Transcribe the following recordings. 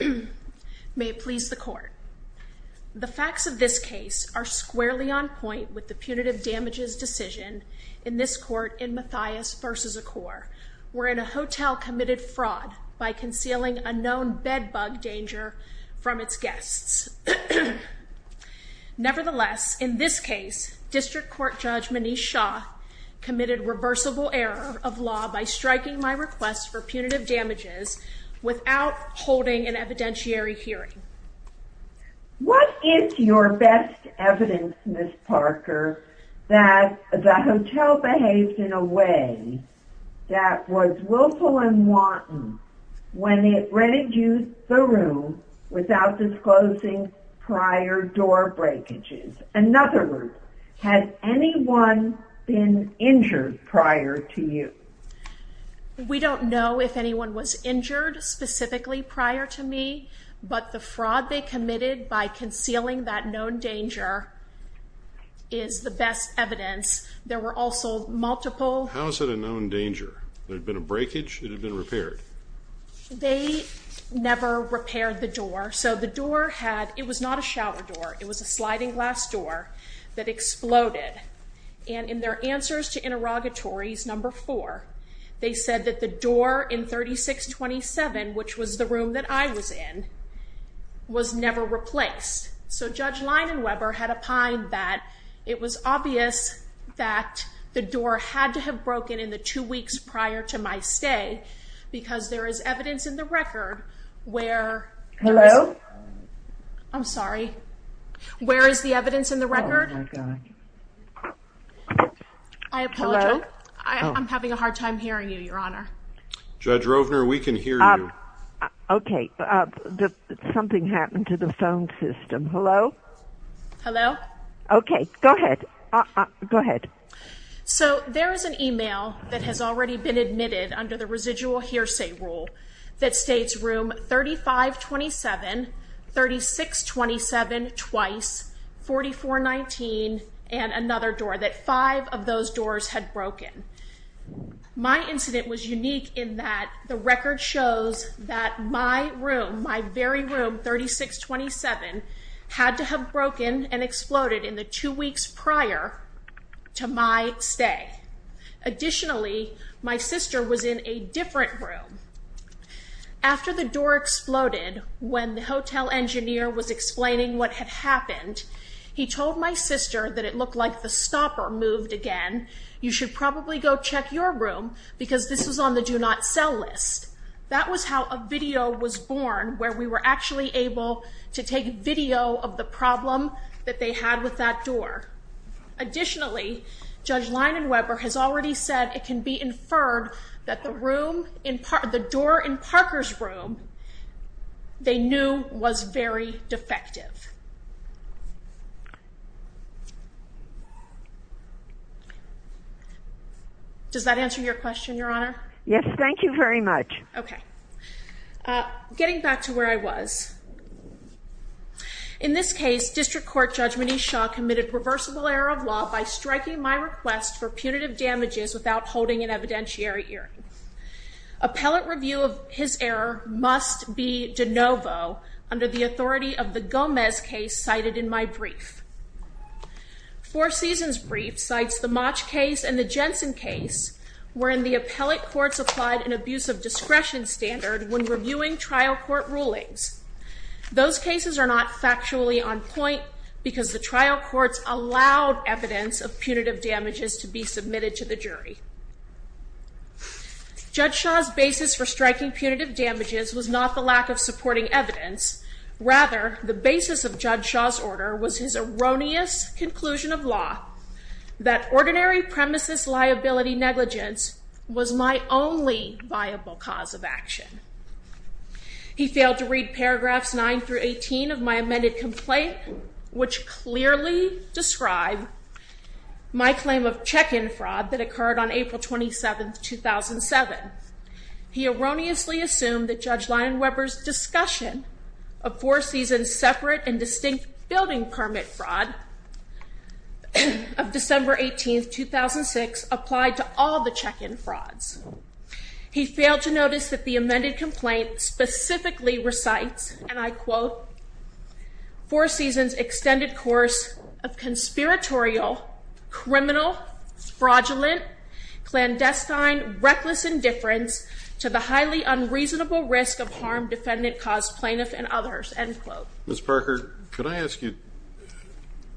May it please the court. The facts of this case are squarely on point with the punitive damages decision in this court in Matthias v. Accor, wherein a hotel committed fraud by concealing a known bed bug danger from its guests. Nevertheless, in this case, District Court Judge Manish Shah committed reversible error of law by striking my request for punitive damages without holding an evidentiary hearing. What is your best evidence, Ms. Parker, that the hotel behaved in a way that was willful and wanton when it rented you the room without disclosing prior door breakages? In other words, has anyone been injured prior to you? We don't know if anyone was injured specifically prior to me, but the fraud they committed by concealing that known danger is the best evidence. There were also multiple... How is it a known danger? There had been a breakage? It had been repaired? They never repaired the door, so the door had... it was not a shower door. It was a sliding glass door that exploded, and in their answers to interrogatories number four, they said that the door in 3627, which was the room that I was in, was never replaced. So Judge Leinenweber had opined that it was obvious that the door had to have broken in the two weeks prior to my stay because there is evidence in the record where... Hello? I'm sorry. Where is the phone? I'm having a hard time hearing you, Your Honor. Judge Rovner, we can hear you. Okay, something happened to the phone system. Hello? Hello? Okay, go ahead. Go ahead. So there is an email that has already been admitted under the residual hearsay rule that states room 3527, 3627 twice, 4419, and another door that five of those doors had broken. My incident was unique in that the record shows that my room, my very room, 3627, had to have broken and exploded in the two weeks prior to my stay. Additionally, my sister was in a different room. After the door exploded, when the hotel engineer was explaining what had moved again, you should probably go check your room because this was on the do not sell list. That was how a video was born where we were actually able to take video of the problem that they had with that door. Additionally, Judge Leinenweber has already said it can be inferred that the room, the door in Does that answer your question, Your Honor? Yes, thank you very much. Okay, getting back to where I was. In this case, District Court Judge Manish Shah committed reversible error of law by striking my request for punitive damages without holding an evidentiary hearing. Appellate review of his error must be de novo under the authority of the Gomez case cited in my brief. Four seasons brief cites the much case and the Jensen case were in the appellate courts applied an abuse of discretion standard when reviewing trial court rulings. Those cases are not factually on point because the trial courts allowed evidence of punitive damages to be submitted to the jury. Judge Shah's basis for striking punitive damages was not the lack of supporting evidence. Rather, the basis of Judge Shah's order was his erroneous conclusion of law that ordinary premises liability negligence was my only viable cause of action. He failed to read paragraphs nine through 18 of my amended complaint, which clearly describe my claim of check in fraud that occurred on April 27th, 2007. He erroneously assumed that Judge Leinenweber's discussion of Four Seasons separate and distinct building permit fraud of December 18th, 2006 applied to all the check in frauds. He failed to notice that the amended complaint specifically recites, and I quote, Four Seasons extended course of conspiratorial, criminal, fraudulent, clandestine, reckless indifference to the highly unreasonable risk of harm defendant caused plaintiff and others, end quote. Ms. Parker, could I ask you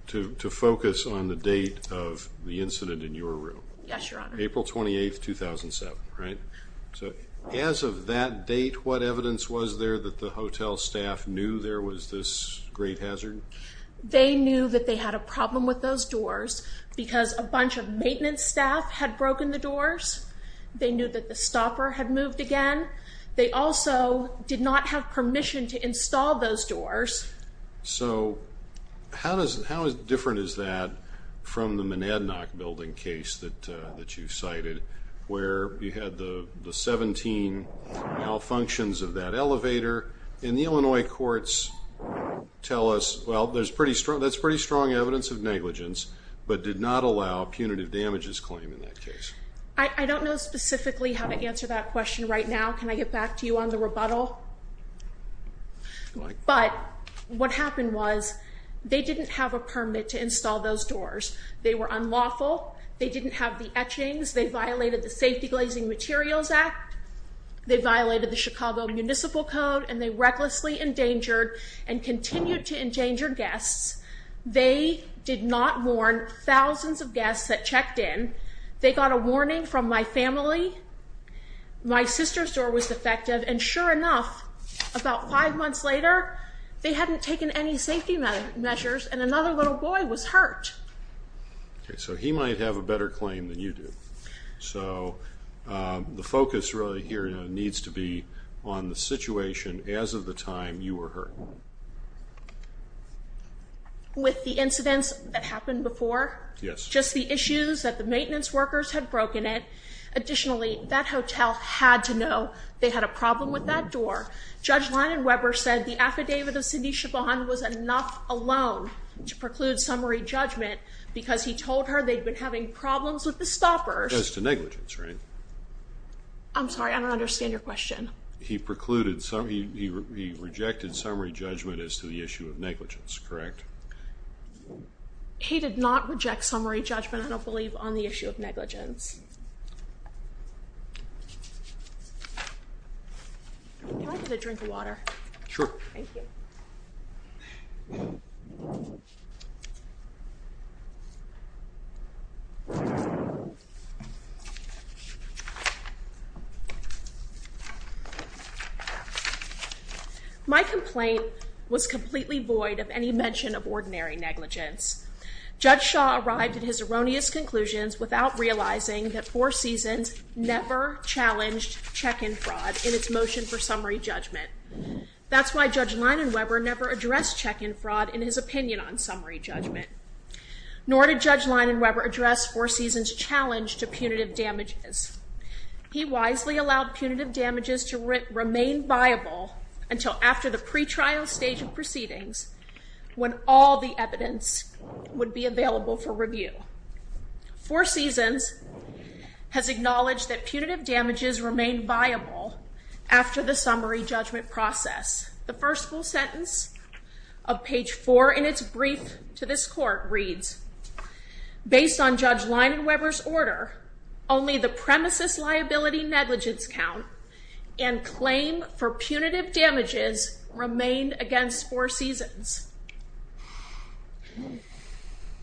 to focus on the date of the incident in your room? Yes, Your Honor. April 28th, 2007, right? So as of that date, what evidence was there that the hotel staff knew there was this great hazard? They knew that they had a problem with those doors because a bunch of maintenance staff had broken the doors. They knew that the stopper had moved again. They also did not have permission to install those doors. So how different is that from the Mnadnock building case that you cited where you had the 17 malfunctions of that elevator? And the Illinois courts tell us, well, that's pretty strong evidence of negligence, but did not allow punitive damages claim in that case. I don't know specifically how to answer that question right now. Can I get back to you on the rebuttal? But what happened was they didn't have a permit to install those doors. They were unlawful. They didn't have the etchings. They violated the Safety Glazing Materials Act. They violated the Chicago Municipal Code, and they recklessly endangered and continued to endanger guests. They did not warn thousands of guests that checked in. They got a warning from my family. My sister's door was defective, and sure enough, about five months later, they hadn't taken any safety measures, and another little boy was hurt. So he might have a better claim than you do. So the focus really here needs to be on the situation as of the time you were hurt. With the incidents that happened before? Yes. Just the issues that the maintenance workers had broken it. Additionally, that hotel had to know they had a problem with that door. Judge Lyon Webber said the affidavit of Cindy Chabon was enough alone to preclude summary judgment because he told her they've been having problems with the stoppers. That's negligence, right? I'm sorry. I don't understand your question. He precluded some. He rejected summary judgment as to the issue of negligence, correct? He did not reject summary judgment, I don't believe, on the issue of negligence. Can I get a drink of water? Sure. Thank you. Mhm. Mhm. My complaint was completely void of any mention of ordinary negligence. Judge Shaw arrived at his erroneous conclusions without realizing that four seasons never challenged check-in fraud in its motion for summary judgment. That's why Judge Lyon Webber never addressed check-in fraud in his opinion on summary judgment. Nor did Judge Lyon Webber address four seasons challenge to punitive damages. He wisely allowed punitive damages to remain viable until after the pretrial stage of proceedings when all the evidence would be available for review. Four seasons has acknowledged that summary judgment process. The first full sentence of page four in its brief to this court reads, based on Judge Lyon Webber's order, only the premises liability negligence count and claim for punitive damages remained against four seasons.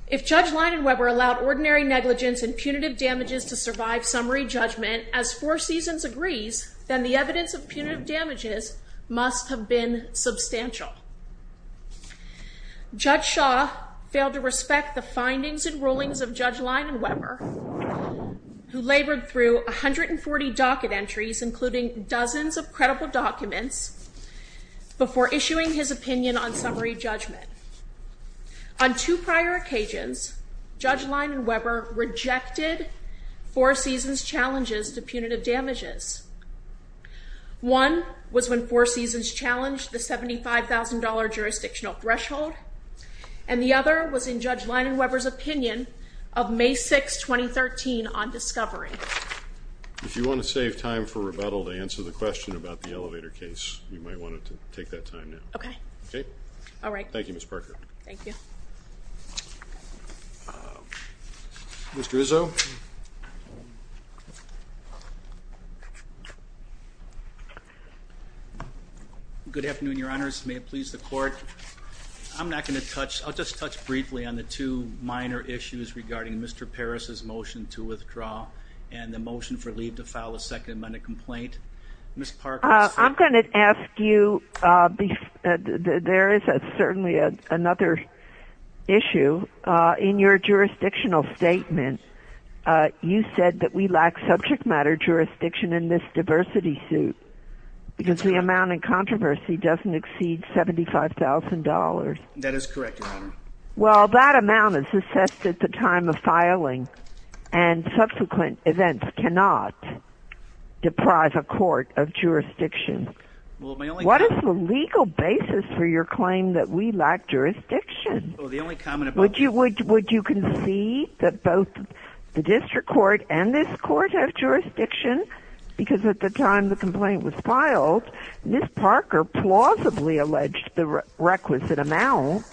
If Judge Lyon Webber allowed ordinary negligence and punitive damages to survive summary judgment as four seasons agrees, then the evidence of damages must have been substantial. Judge Shaw failed to respect the findings and rulings of Judge Lyon Webber, who labored through 140 docket entries, including dozens of credible documents before issuing his opinion on summary judgment. On two prior occasions, Judge Lyon Webber rejected four seasons challenges to punitive damages. One was when four seasons challenged the $75,000 jurisdictional threshold, and the other was in Judge Lyon Webber's opinion of May 6, 2013 on discovery. If you want to save time for rebuttal to answer the question about the elevator case, you might want to take that time now. Okay. Okay. All right. Thank you, Ms. Parker. Thank you. Mr. Izzo. Good afternoon, Your Honors. May it please the court. I'm not going to touch, I'll just touch briefly on the two minor issues regarding Mr. Parris's motion to withdraw and the motion for leave to file a second amendment complaint. Ms. Parker. I'm going to ask you, there is certainly another issue. In your subject matter jurisdiction in this diversity suit, because the amount of controversy doesn't exceed $75,000. That is correct, Your Honor. Well, that amount is assessed at the time of filing and subsequent events cannot deprive a court of jurisdiction. What is the legal basis for your claim that we lack jurisdiction? Would you concede that both the district court and this court have jurisdiction? Because at the time the complaint was filed, Ms. Parker plausibly alleged the requisite amount.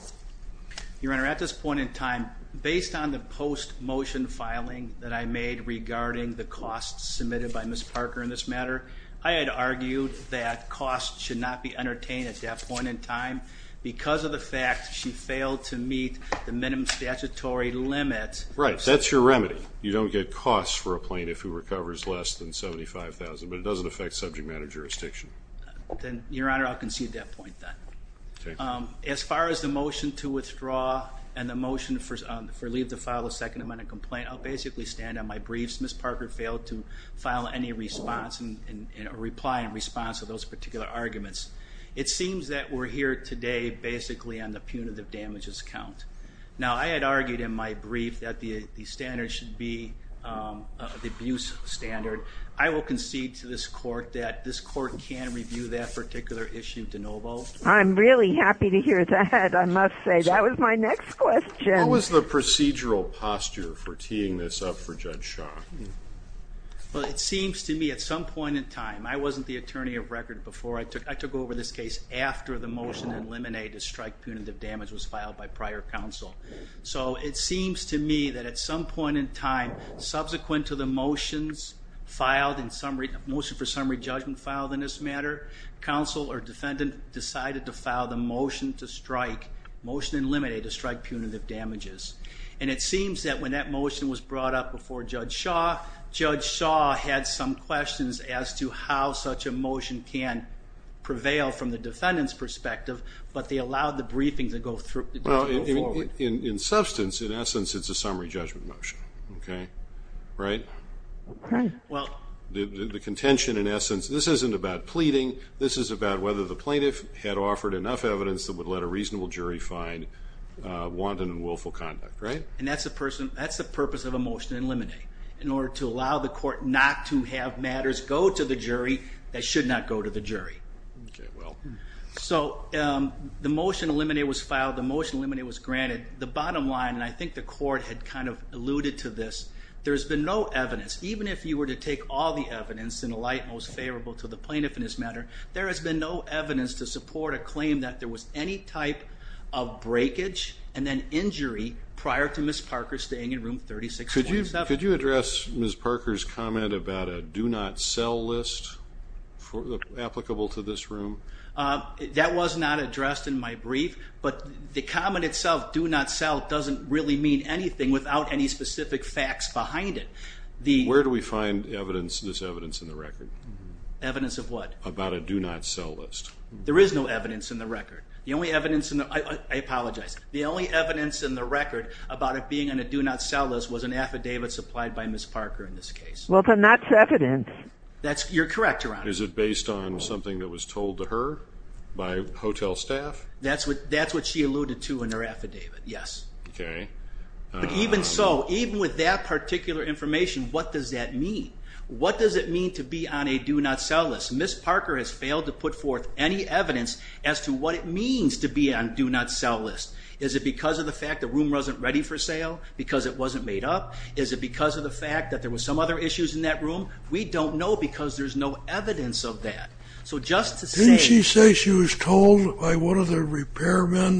Your Honor, at this point in time, based on the post-motion filing that I made regarding the costs submitted by Ms. Parker in this matter, I had argued that costs should not be entertained at that point in time because of the fact she failed to meet the minimum statutory limit. Right. That's your remedy. You don't get costs for a plaintiff who recovers less than $75,000, but it doesn't affect subject matter jurisdiction. Your Honor, I'll concede that point then. As far as the motion to withdraw and the motion for leave to file a second amendment complaint, I'll basically stand on my briefs. Ms. Parker failed to file any response and reply in response to those particular arguments. It seems that we're here today basically on the punitive damages count. Now, I had argued in my brief that the standards should be the abuse standard. I will concede to this court that this court can review that particular issue de novo. I'm really happy to hear that. I must say, that was my next question. What was the procedural posture for teeing this up for Judge Shaw? Well, it seems to me at some point in time, I wasn't the attorney of record before I took over this case after the motion to eliminate a strike punitive damage was filed by prior counsel. So it seems to me that at some point in time, subsequent to the motions filed in summary, motion for summary judgment filed in this matter, counsel or defendant decided to file the motion to strike, motion eliminate a strike punitive damages. And it seems that when that motion was brought up before Judge Shaw, Judge Shaw had some questions as to how such a motion can prevail from the briefings that go forward. In substance, in essence, it's a summary judgment motion. Okay. Right. Well, the contention in essence, this isn't about pleading. This is about whether the plaintiff had offered enough evidence that would let a reasonable jury find wanton and willful conduct, right? And that's the purpose of a motion to eliminate, in order to allow the court to decide. Okay. Well, so the motion eliminated was filed. The motion eliminated was granted. The bottom line, and I think the court had kind of alluded to this, there's been no evidence, even if you were to take all the evidence in a light, most favorable to the plaintiff in this matter, there has been no evidence to support a claim that there was any type of breakage and then injury prior to Ms. Parker staying in room 36.7. Could you address Ms. Parker's comment about a do not sell list for the applicable to this room? That was not addressed in my brief, but the comment itself, do not sell, doesn't really mean anything without any specific facts behind it. Where do we find evidence, this evidence in the record? Evidence of what? About a do not sell list. There is no evidence in the record. The only evidence in the, I apologize. The only evidence in the record about it being in a do not sell list was an affidavit supplied by Ms. Parker in this case. Well, then that's evidence. That's, you're correct, Your Honor. Is it based on something that was told to her by hotel staff? That's what, that's what she alluded to in her affidavit. Yes. Okay. But even so, even with that particular information, what does that mean? What does it mean to be on a do not sell list? Ms. Parker has failed to put forth any evidence as to what it means to be on do not sell list. Is it because of the fact the room wasn't ready for sale? Because it wasn't made up? Is it because of the fact that there was some other issues in that room? We don't know because there's no evidence of that. So just to say... Didn't she say she was told by one of the repairmen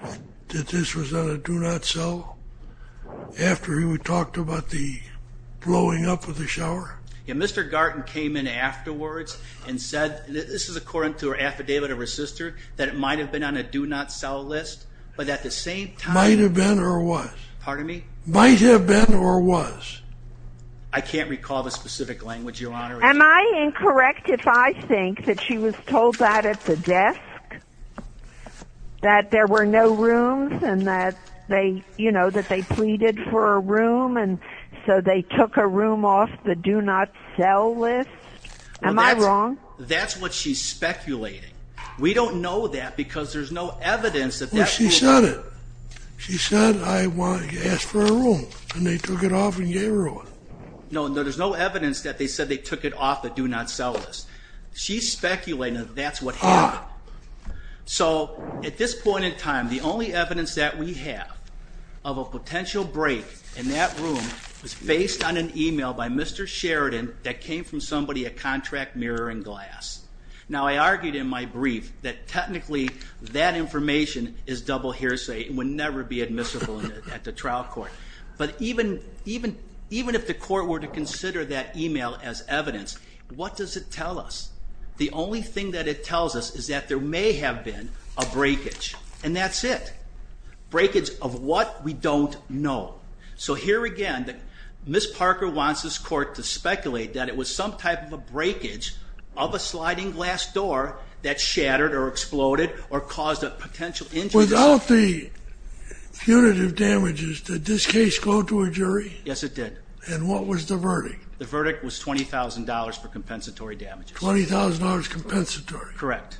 that this was on a do not sell? After we talked about the blowing up of the shower? Yeah. Mr. Garten came in afterwards and said, this is according to her affidavit of her sister, that it might've been on a do not sell list, but at the same time... Might've been or was? Pardon me? Might have been or was? I can't recall the specific language, Your Honor. Am I incorrect if I think that she was told that at the desk? That there were no rooms and that they, you know, that they pleaded for a room. And so they took a room off the do not sell list. Am I wrong? That's what she's speculating. We don't know that because there's no evidence that that's... Well, she said it. She said, I asked for a room and they took it off and gave her one. No, there's no evidence that they said they took it off the do not sell list. She's speculating that that's what happened. So at this point in time, the only evidence that we have of a potential break in that room was based on an email by Mr. Sheridan that came from somebody at Contract Mirror and Glass. Now I argued in my brief that technically that information is double hearsay and would never be admissible at the trial court. But even if the court were to consider that email as evidence, what does it tell us? The only thing that it tells us is that there may have been a breakage and that's it. Breakage of what? We don't know. So here again, Ms. Parker wants this court to speculate that it was some type of a breakage of a sliding glass door that shattered or exploded or caused a potential injury. Without the punitive damages, did this case go to a jury? Yes, it did. And what was the verdict? The verdict was $20,000 for compensatory damages. $20,000 compensatory. Correct.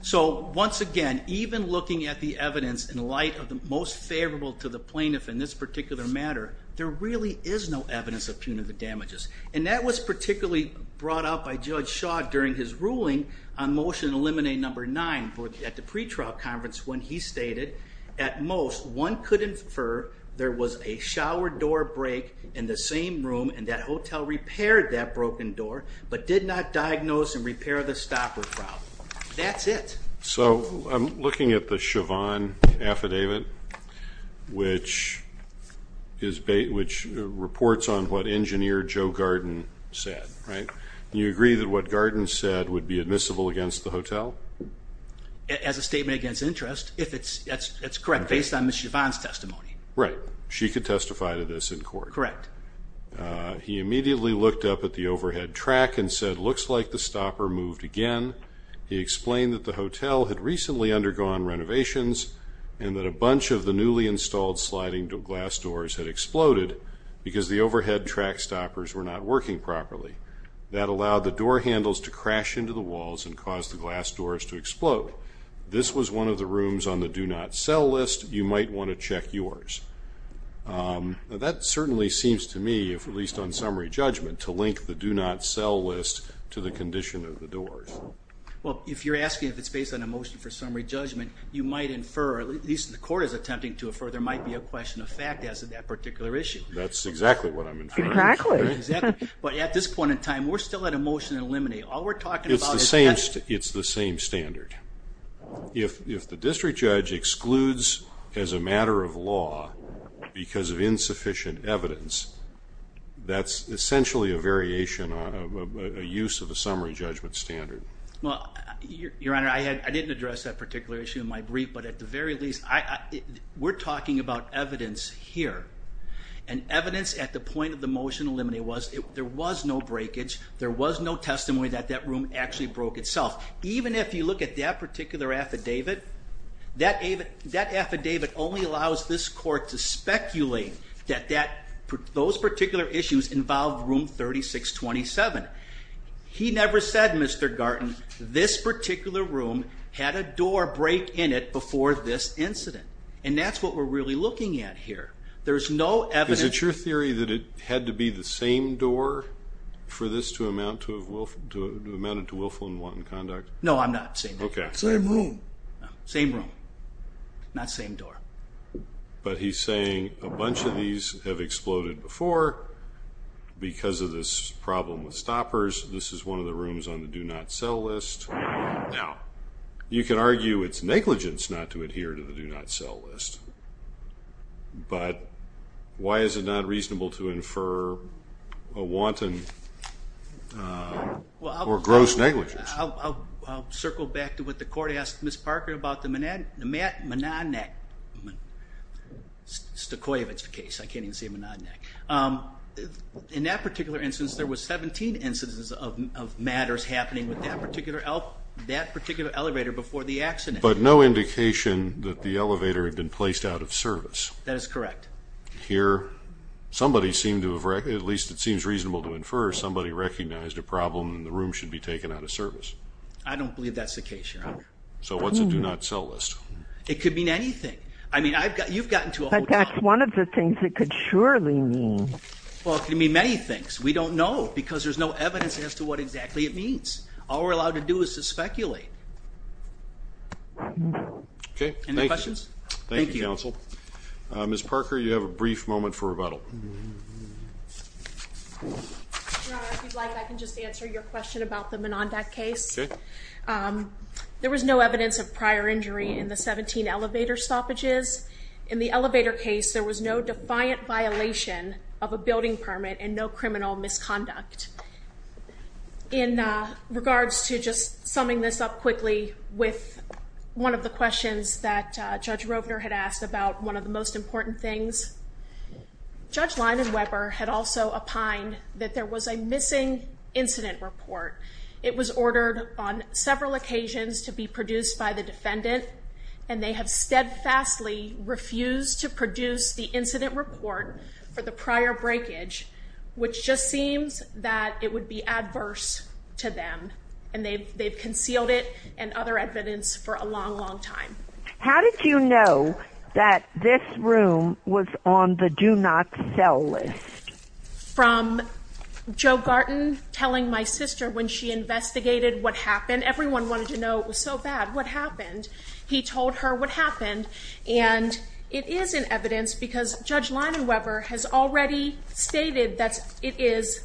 So once again, even looking at the evidence in light of the most favorable to the plaintiff in this particular matter, there really is no evidence of punitive damages. And that was particularly brought up by Judge Shaw during his ruling on motion eliminate number nine at the pretrial conference when he stated, at most, one could infer there was a shower door break in the same room and that hotel repaired that broken door, but did not diagnose and repair the stopper problem. That's it. So I'm looking at the Chauvin affidavit, which is, which reports on what engineer Joe Garden said, right? You agree that what Garden said would be admissible against the hotel? As a statement against interest. If it's, that's, that's correct. Based on Ms. Chauvin's testimony. Right. She could testify to this in court. Correct. Uh, he immediately looked up at the overhead track and said, looks like the stopper moved again. He explained that the hotel had recently undergone renovations and that a bunch of the newly installed sliding glass doors had exploded because the overhead track stoppers were not working properly. That allowed the door handles to crash into the walls and caused the glass doors to explode. This was one of the rooms on the do not sell list. You might want to check yours. Um, that certainly seems to me, if at least on summary judgment to link the do not sell list to the condition of the doors. Well, if you're asking if it's based on a motion for summary judgment, you might infer, or at least the court is attempting to infer, there might be a question of fact as to that particular issue. That's exactly what I'm inferring. Exactly. But at this point in time, we're still at a motion to eliminate. All we're talking about. It's the same, it's the same standard. If, if the district judge excludes as a matter of law because of insufficient evidence, that's essentially a variation of a use of a summary judgment standard. Well, your, your honor, I had, I didn't address that particular issue in my brief, but at the very least, I, we're talking about evidence here and evidence at the point of the motion to eliminate was, there was no breakage. There was no testimony that that room actually broke itself. Even if you look at that particular affidavit, that affidavit only allows this court to speculate that, that those particular issues involved room 3627. He never said, Mr. Garten, this particular room had a door break in it before this incident. And that's what we're really looking at here. There's no evidence. Is it your theory that it had to be the same door for this to amount to have, to amounted to willful and wanton conduct? No, I'm not saying. Okay. Same room. Same room, not same door. But he's saying a bunch of these have exploded before because of this problem with stoppers. This is one of the rooms on the do not sell list. Now you can argue it's negligence not to adhere to the do not sell list, but why is it not reasonable to infer a wanton or gross negligence? I'll circle back to what the court asked Ms. Parker about the Monadnack, Stokoyevich case. I can't even say Monadnack. In that particular instance, there was 17 instances of matters happening with that particular elevator before the accident. But no indication that the elevator had been placed out of service. That is correct. Here, somebody seemed to have, at least it seems reasonable to infer somebody recognized a problem and the room should be taken out of service. I don't believe that's the case, Your Honor. So what's a do not sell list? It could mean anything. I mean, I've got, you've gotten to a whole- But that's one of the things it could surely mean. Well, it could mean many things. We don't know because there's no evidence as to what exactly it means. All we're allowed to do is to speculate. Okay. Any questions? Thank you, counsel. Ms. Parker, you have a brief moment for rebuttal. Your Honor, if you'd like, I can just answer your question about the Monadnack case. There was no evidence of prior injury in the 17 elevator stoppages. In the elevator case, there was no defiant violation of a building permit and no criminal misconduct. In regards to just summing this up quickly with one of the questions that Judge Rovner had asked about one of the most important things, Judge Leinenweber had also opined that there was a missing incident report. It was ordered on several occasions to be produced by the defendant, and they have steadfastly refused to produce the incident report for the prior breakage, which just seems that it would be adverse to them. And they've concealed it and other evidence for a long, long time. How did you know that this room was on the do not sell list? From Joe Garten telling my sister when she investigated what happened, everyone wanted to know it was so bad. What happened? He told her what happened. And it is in evidence because Judge Leinenweber has already stated that it is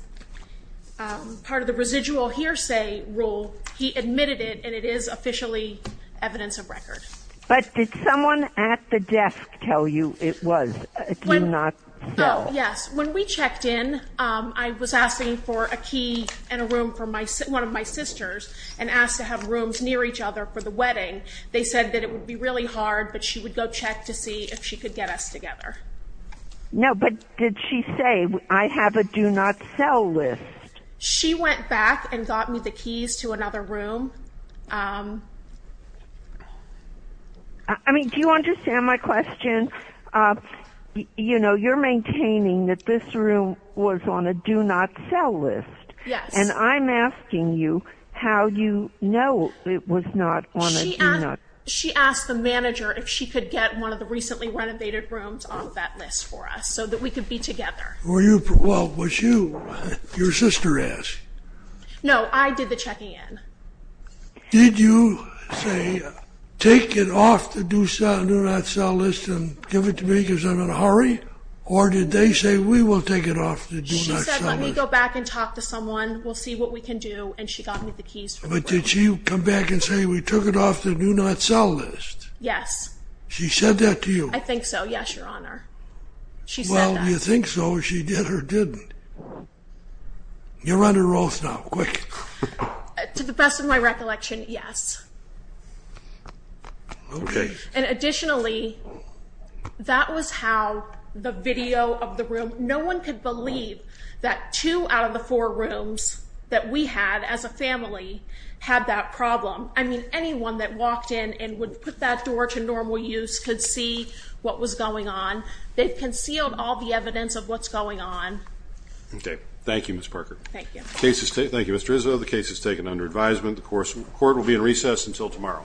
part of the residual hearsay rule. He admitted it, and it is officially evidence of record. But did someone at the desk tell you it was a do not sell? Yes. When we checked in, I was asking for a key and a room for one of my sisters and asked to have rooms near each other for the wedding. They said that it would be really hard, but she would go check to see if she could get us together. No, but did she say, I have a do not sell list? She went back and got me the keys to another room. I mean, do you understand my question? You know, you're maintaining that this room was on a do not sell list. Yes. And I'm asking you how you know it was not on a do not. She asked the manager if she could get one of the recently renovated rooms off of that list for us so that we could be together. Were you? Well, was you? Your sister asked? No, I did the checking in. Did you say, take it off the do not sell list and give it to me because I'm in a hurry? Or did they say, we will take it off the do not sell list? She said, let me go back and talk to someone. We'll see what we can do. And she got me the keys. But did she come back and say, we took it off the do not sell list? Yes. She said that to you? I think so. Yes, Your Honor. She said that. Well, you think so? She did or didn't? You're under oath now, quick. To the best of my recollection, yes. OK. And additionally, that was how the video of the room, no one could believe that two out of the four rooms that we had as a family had that problem. I mean, anyone that walked in and would put that door to normal use could see what was going on. They've concealed all the evidence of what's going on. OK. Thank you, Ms. Parker. Thank you. Thank you, Mr. Izzo. The case is taken under advisement. The court will be in recess until tomorrow.